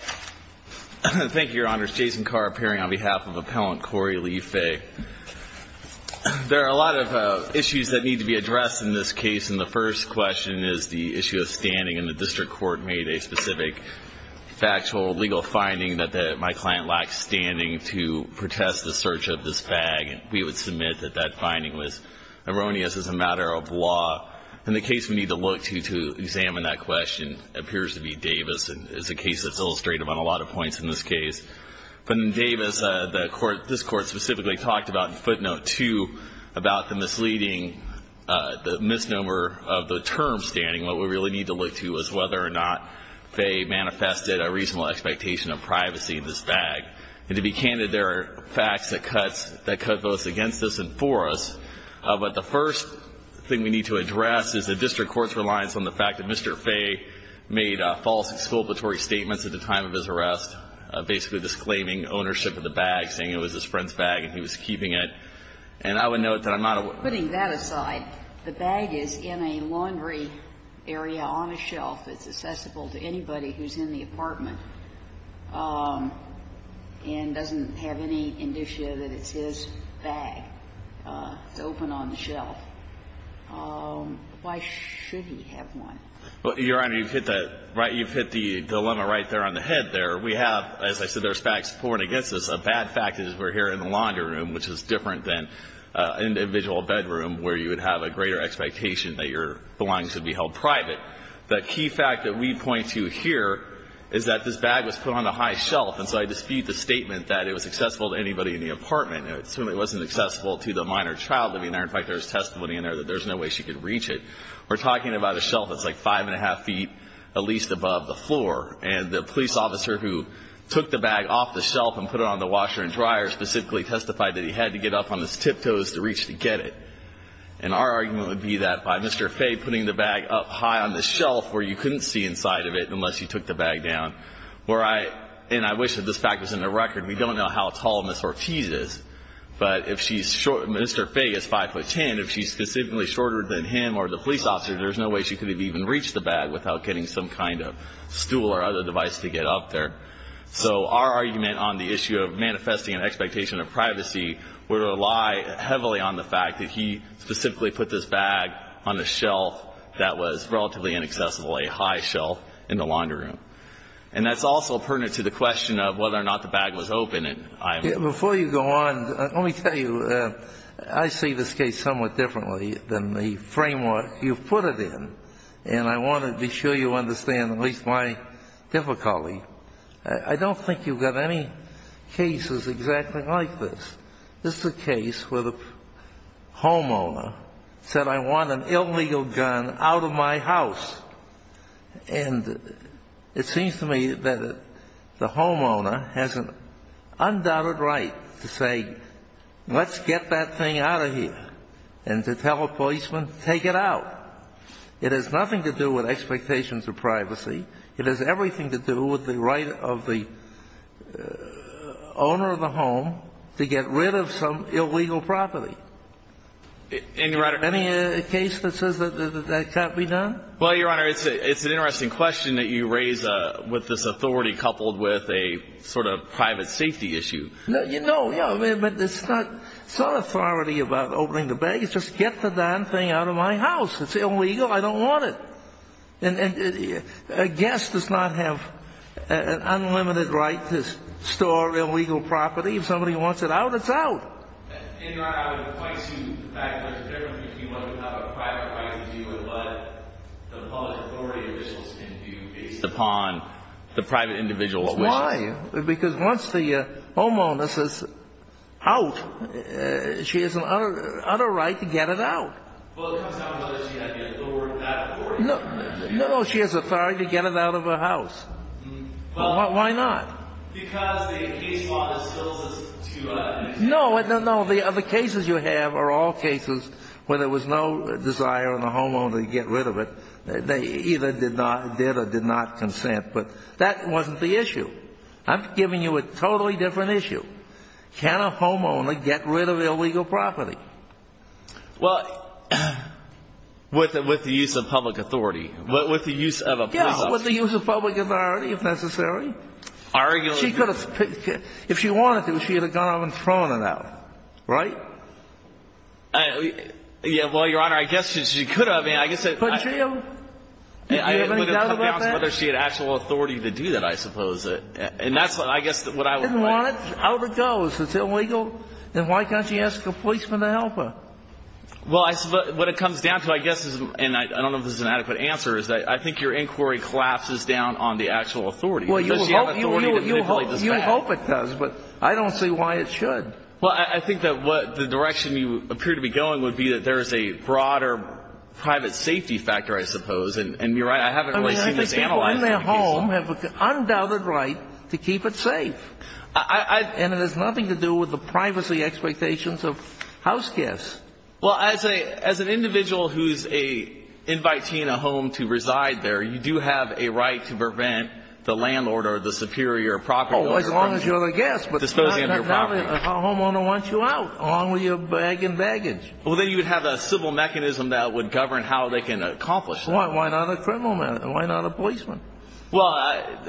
There are a lot of issues that need to be addressed in this case, and the first question is the issue of standing, and the district court made a specific factual legal finding that my client lacks standing to protest the search of this bag, and we would submit that that finding was erroneous as a matter of law. And the case we need to look to to examine that question appears to be Davis, and is a case that's illustrative on a lot of points in this case. But in Davis, the court, this court specifically talked about in footnote 2 about the misleading, the misnomer of the term standing. What we really need to look to is whether or not Fay manifested a reasonable expectation of privacy in this bag. And to be candid, there are facts that cuts, that cut both against us and for us. But the first thing we need to address is the district court's reliance on the fact that Mr. Fay made false exculpatory statements at the time of his arrest, basically disclaiming ownership of the bag, saying it was his friend's bag and he was keeping it, and I would note that I'm not aware of that. But that aside, the bag is in a laundry area on a shelf. It's accessible to anybody who's in the apartment and doesn't have any indicia that it's his bag. It's open on the shelf. Why should he have one? Well, Your Honor, you've hit that, right, you've hit the dilemma right there on the head there. We have, as I said, there's facts pouring against us. The bad fact is we're here in the laundry room, which is different than an individual bedroom where you would have a greater expectation that your belongings would be held private. The key fact that we point to here is that this bag was put on a high shelf, and so I dispute the statement that it was accessible to anybody in the apartment. It certainly wasn't accessible to the minor child living there. In fact, there's testimony in there that there's no way she could reach it. We're talking about a shelf that's like five and a half feet at least above the floor. And the police officer who took the bag off the shelf and put it on the washer and dryer specifically testified that he had to get up on his tiptoes to reach to get it. And our argument would be that by Mr. Fay putting the bag up high on the shelf where you couldn't see inside of it unless you took the bag down, where I, and I wish that this fact was in the record, we don't know how tall Ms. Ortiz is, but if she's short, Mr. Fay is five foot ten, if she's specifically shorter than him or the police officer, there's no way she could have even reached the bag without getting some kind of stool or other device to get up there. So our argument on the issue of manifesting an expectation of privacy would rely heavily on the fact that he specifically put this bag on a shelf that was relatively inaccessible, a high shelf in the laundry room. And that's also pertinent to the question of whether or not the bag was open. And I'm going to go on. Let me tell you, I see this case somewhat differently than the framework you've put it in. And I want to be sure you understand at least my difficulty. I don't think you've got any cases exactly like this. This is a case where the homeowner said, I want an illegal gun out of my house. And it seems to me that the homeowner has an undoubted right to say, let's get that thing out of here, and to tell a policeman, take it out. It has nothing to do with expectations of privacy. It has everything to do with the right of the owner of the home to get rid of some illegal property. Any case that says that that can't be done? Well, Your Honor, it's an interesting question that you raise with this authority coupled with a sort of private safety issue. No, you know, yeah, but it's not authority about opening the bag. It's just get the darn thing out of my house. It's illegal. I don't want it. And a guest does not have an unlimited right to store illegal property. If somebody wants it out, it's out. In your honor, I would point to the fact that there's a difference between what you have a private right to do and what the public authority officials can do based upon the private individual's wishes. Why? Because once the homeowner says, out, she has an utter right to get it out. Well, it comes down to whether she had the authority to do that. No, no, she has authority to get it out of her house. Why not? Because the case law distills it to a... No, no, no. The other cases you have are all cases where there was no desire on the homeowner to get rid of it. They either did not, did or did not consent. But that wasn't the issue. I'm giving you a totally different issue. Can a homeowner get rid of illegal property? Well, with the use of public authority. With the use of a police officer. Yeah, with the use of public authority if necessary. Arguably. She could have picked it. If she wanted to, she would have gone out and thrown it out. Right? Yeah, well, Your Honor, I guess she could have. I mean, I guess... Couldn't she have? Do you have any doubt about that? I would have to come down to whether she had actual authority to do that, I suppose. And that's what I guess what I would like... Didn't want it? Out it goes. It's illegal? Then why can't she ask a policeman to help her? Well, what it comes down to, I guess, and I don't know if this is an adequate answer, is that I think your inquiry collapses down on the actual authority. Well, you hope it does, but I don't see why it should. Well, I think that what the direction you appear to be going would be that there is a broader private safety factor, I suppose. And you're right, I haven't really seen this analyzed. I mean, I think people in their home have an undoubted right to keep it safe. And it has nothing to do with the privacy expectations of house guests. Well, as an individual who's inviting a home to reside there, you do have a right to prevent the landlord or the superior property owner from disposing of your property. Oh, as long as you're the guest. But a homeowner wants you out, along with your bag and baggage. Well, then you would have a civil mechanism that would govern how they can accomplish that. Why not a criminal man? Why not a policeman? Well,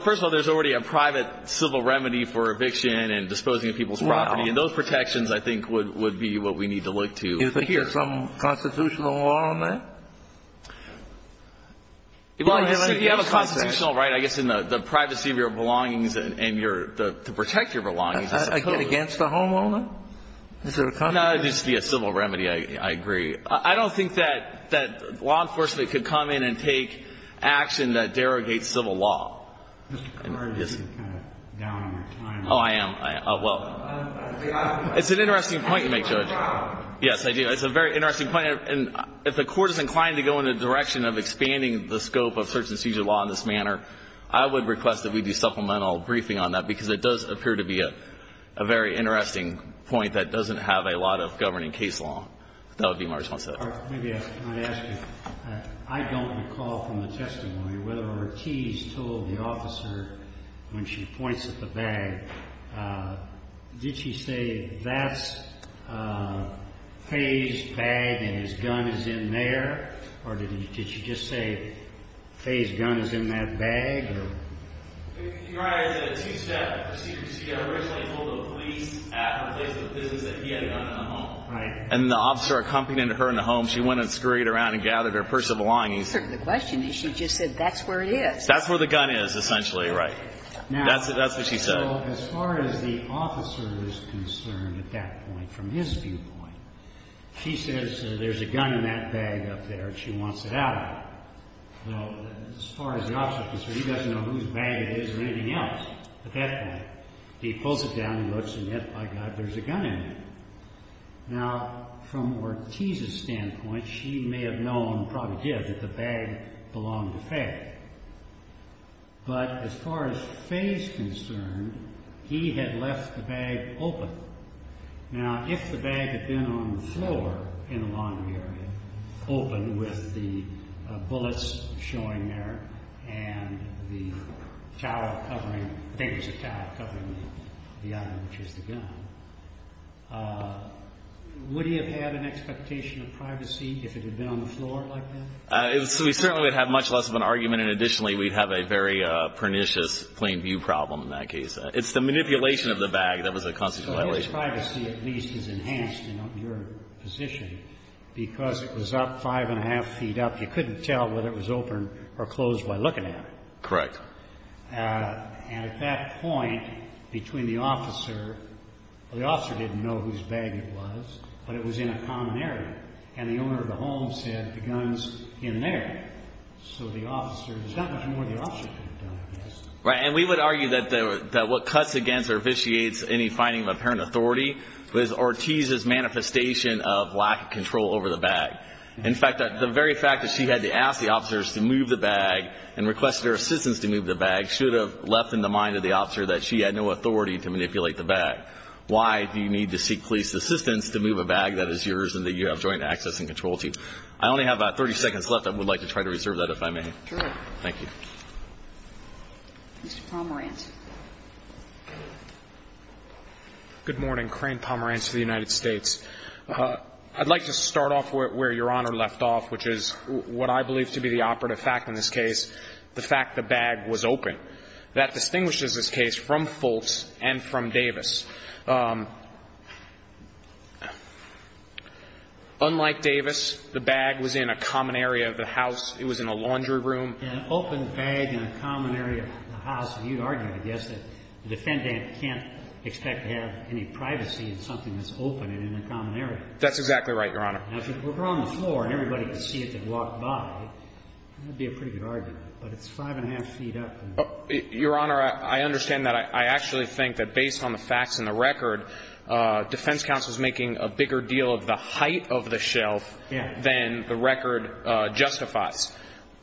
first of all, there's already a private civil remedy for eviction and disposing of people's property. And those protections, I think, would be what we need to look to here. Do you think there's some constitutional law on that? Well, I guess if you have a constitutional right, I guess, in the privacy of your belongings and your to protect your belongings. Against the homeowner? No, it would just be a civil remedy. I agree. I don't think that law enforcement could come in and take action that derogates civil law. Mr. Carter, you seem kind of down on your time. Oh, I am. Well, it's an interesting point you make, Judge. Yes, I do. It's a very interesting point. And if the Court is inclined to go in the direction of expanding the scope of search-and-seizure law in this manner, I would request that we do supplemental briefing on that, because it does appear to be a very interesting point that doesn't have a lot of governing case law. That would be my response to that. All right. Let me ask you. I don't recall from the testimony whether Ortiz told the officer, when she points at the bag, did she say, that's Faye's bag and his gun is in there? Or did she just say, Faye's gun is in that bag? Your Honor, I did a two-step secrecy. I originally told the police at the place of the business that he had a gun in the home. Right. And the officer accompanied her in the home. She went and scurried around and gathered her purse of belongings. The question is, she just said, that's where it is. That's where the gun is, essentially, right. That's what she said. As far as the officer is concerned at that point, from his viewpoint, she says, there's a gun in that bag up there. She wants it out. Well, as far as the officer is concerned, he doesn't know whose bag it is or anything else at that point. He pulls it down and looks, and, yes, by God, there's a gun in there. Now, from Ortiz's standpoint, she may have known, probably did, that the bag belonged to Faye. But as far as Faye's concerned, he had left the bag open. Now, if the bag had been on the floor in the laundry area, open with the bullets showing there and the towel covering, I think it was a towel covering the item, which is the gun, would he have had an expectation of privacy if it had been on the floor like that? We certainly would have much less of an argument. And additionally, we'd have a very pernicious plain view problem in that case. It's the manipulation of the bag that was a constitutional violation. So his privacy, at least, is enhanced in your position because it was up five and a half feet up. You couldn't tell whether it was open or closed by looking at it. Correct. And at that point, between the officer, the officer didn't know whose bag it was, but it was in a common area. And the owner of the home said, the gun's in there. So the officer, there's not much more the officer could have done. Right. And we would argue that what cuts against or vitiates any finding of apparent authority was Ortiz's manifestation of lack of control over the bag. In fact, the very fact that she had to ask the officers to move the bag and request their assistance to move the bag should have left in the mind of the officer that she had no authority to manipulate the bag. Why do you need to seek police assistance to move a bag that is yours and that you have joint access and control to? I only have about 30 seconds left. I would like to try to reserve that if I may. Sure. Thank you. Mr. Pomerantz. Good morning. Crane Pomerantz for the United States. I'd like to start off where Your Honor left off, which is what I believe to be the operative fact in this case, the fact the bag was open. That distinguishes this case from Fultz and from Davis. Unlike Davis, the bag was in a common area of the house. It was in a laundry room. An open bag in a common area of the house. You'd argue, I guess, that the defendant can't expect to have any privacy in something that's open and in a common area. That's exactly right, Your Honor. Now, if it were on the floor and everybody could see it that walked by, that would be a pretty good argument. But it's five and a half feet up. Your Honor, I understand that. I actually think that based on the facts and the record, defense counsel is making a bigger deal of the height of the shelf than the record justifies.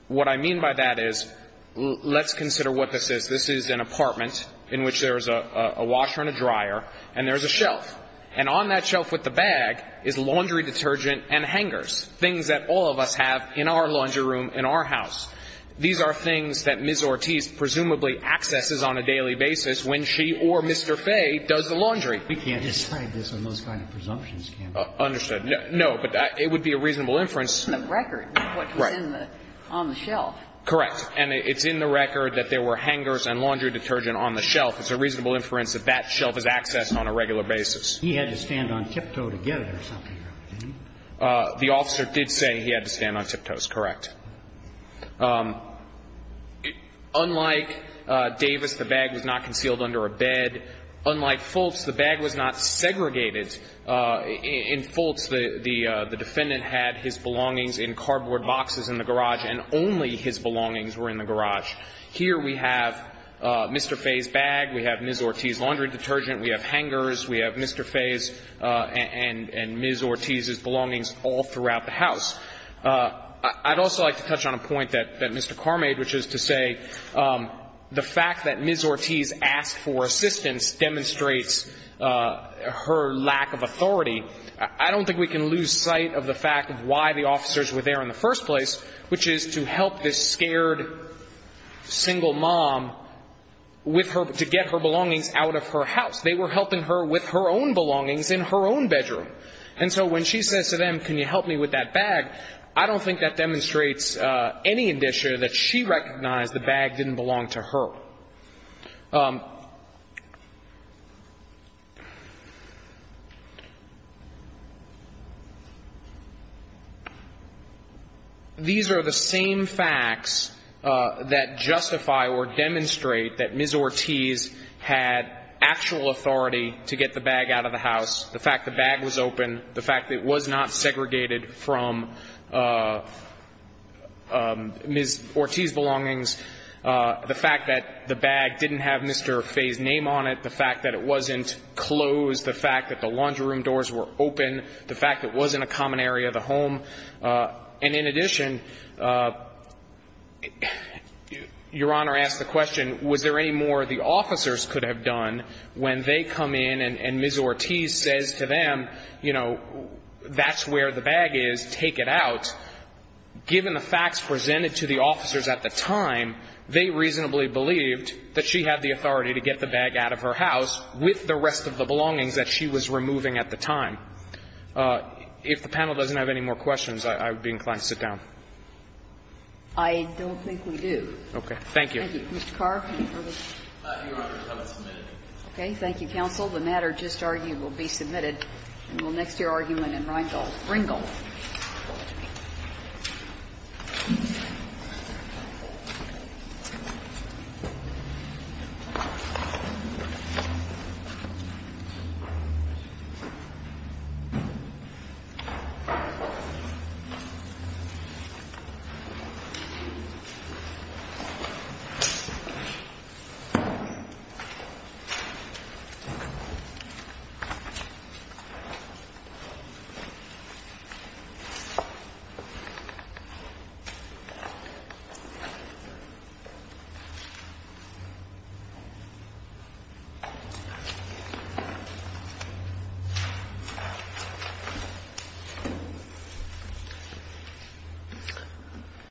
What I mean by that is, let's consider what this is. This is an apartment in which there's a washer and a dryer and there's a shelf. And on that shelf with the bag is laundry detergent and hangers. Things that all of us have in our laundry room, in our house. These are things that Ms. Ortiz presumably accesses on a daily basis when she or Mr. Fay does the laundry. We can't decide this on those kind of presumptions, can we? Understood. No. But it would be a reasonable inference. The record is what was on the shelf. Correct. And it's in the record that there were hangers and laundry detergent on the shelf. It's a reasonable inference that that shelf is accessed on a regular basis. He had to stand on tiptoe to get it or something, right? The officer did say he had to stand on tiptoes. Correct. Unlike Davis, the bag was not concealed under a bed. Unlike Fultz, the bag was not segregated. In Fultz, the defendant had his belongings in cardboard boxes in the garage and only his belongings were in the garage. Here we have Mr. Fay's bag. We have Ms. Ortiz's laundry detergent. We have hangers. We have Mr. Fay's and Ms. Ortiz's belongings all throughout the house. I'd also like to touch on a point that Mr. Carr made, which is to say the fact that Ms. Ortiz asked for assistance demonstrates her lack of authority. I don't think we can lose sight of the fact of why the officers were there in the first place, which is to help this scared single mom to get her belongings out of her house. They were helping her with her own belongings in her own bedroom. And so when she says to them, can you help me with that bag, I don't think that demonstrates any indicia that she recognized the bag didn't belong to her. These are the same facts that justify or demonstrate that Ms. Ortiz had actual authority to get the bag out of the house. The fact the bag was open. The fact that it was not segregated from Ms. Ortiz's belongings. The fact that the bag didn't have Mr. Fay's name on it. The fact that it wasn't closed. The fact that the laundry room doors were open. The fact that it wasn't a common area of the home. And in addition, Your Honor asked the question, was there any more the officers could have done when they come in and Ms. Ortiz says to them, you know, that's where the bag is. Take it out. Given the facts presented to the officers at the time, they reasonably believed that she had the authority to get the bag out of her house with the rest of the belongings that she was removing at the time. If the panel doesn't have any more questions, I would be inclined to sit down. I don't think we do. Okay. Okay. Thank you, counsel. The matter just argued will be submitted in the next year argument in Ringel. Ringel. Thank you.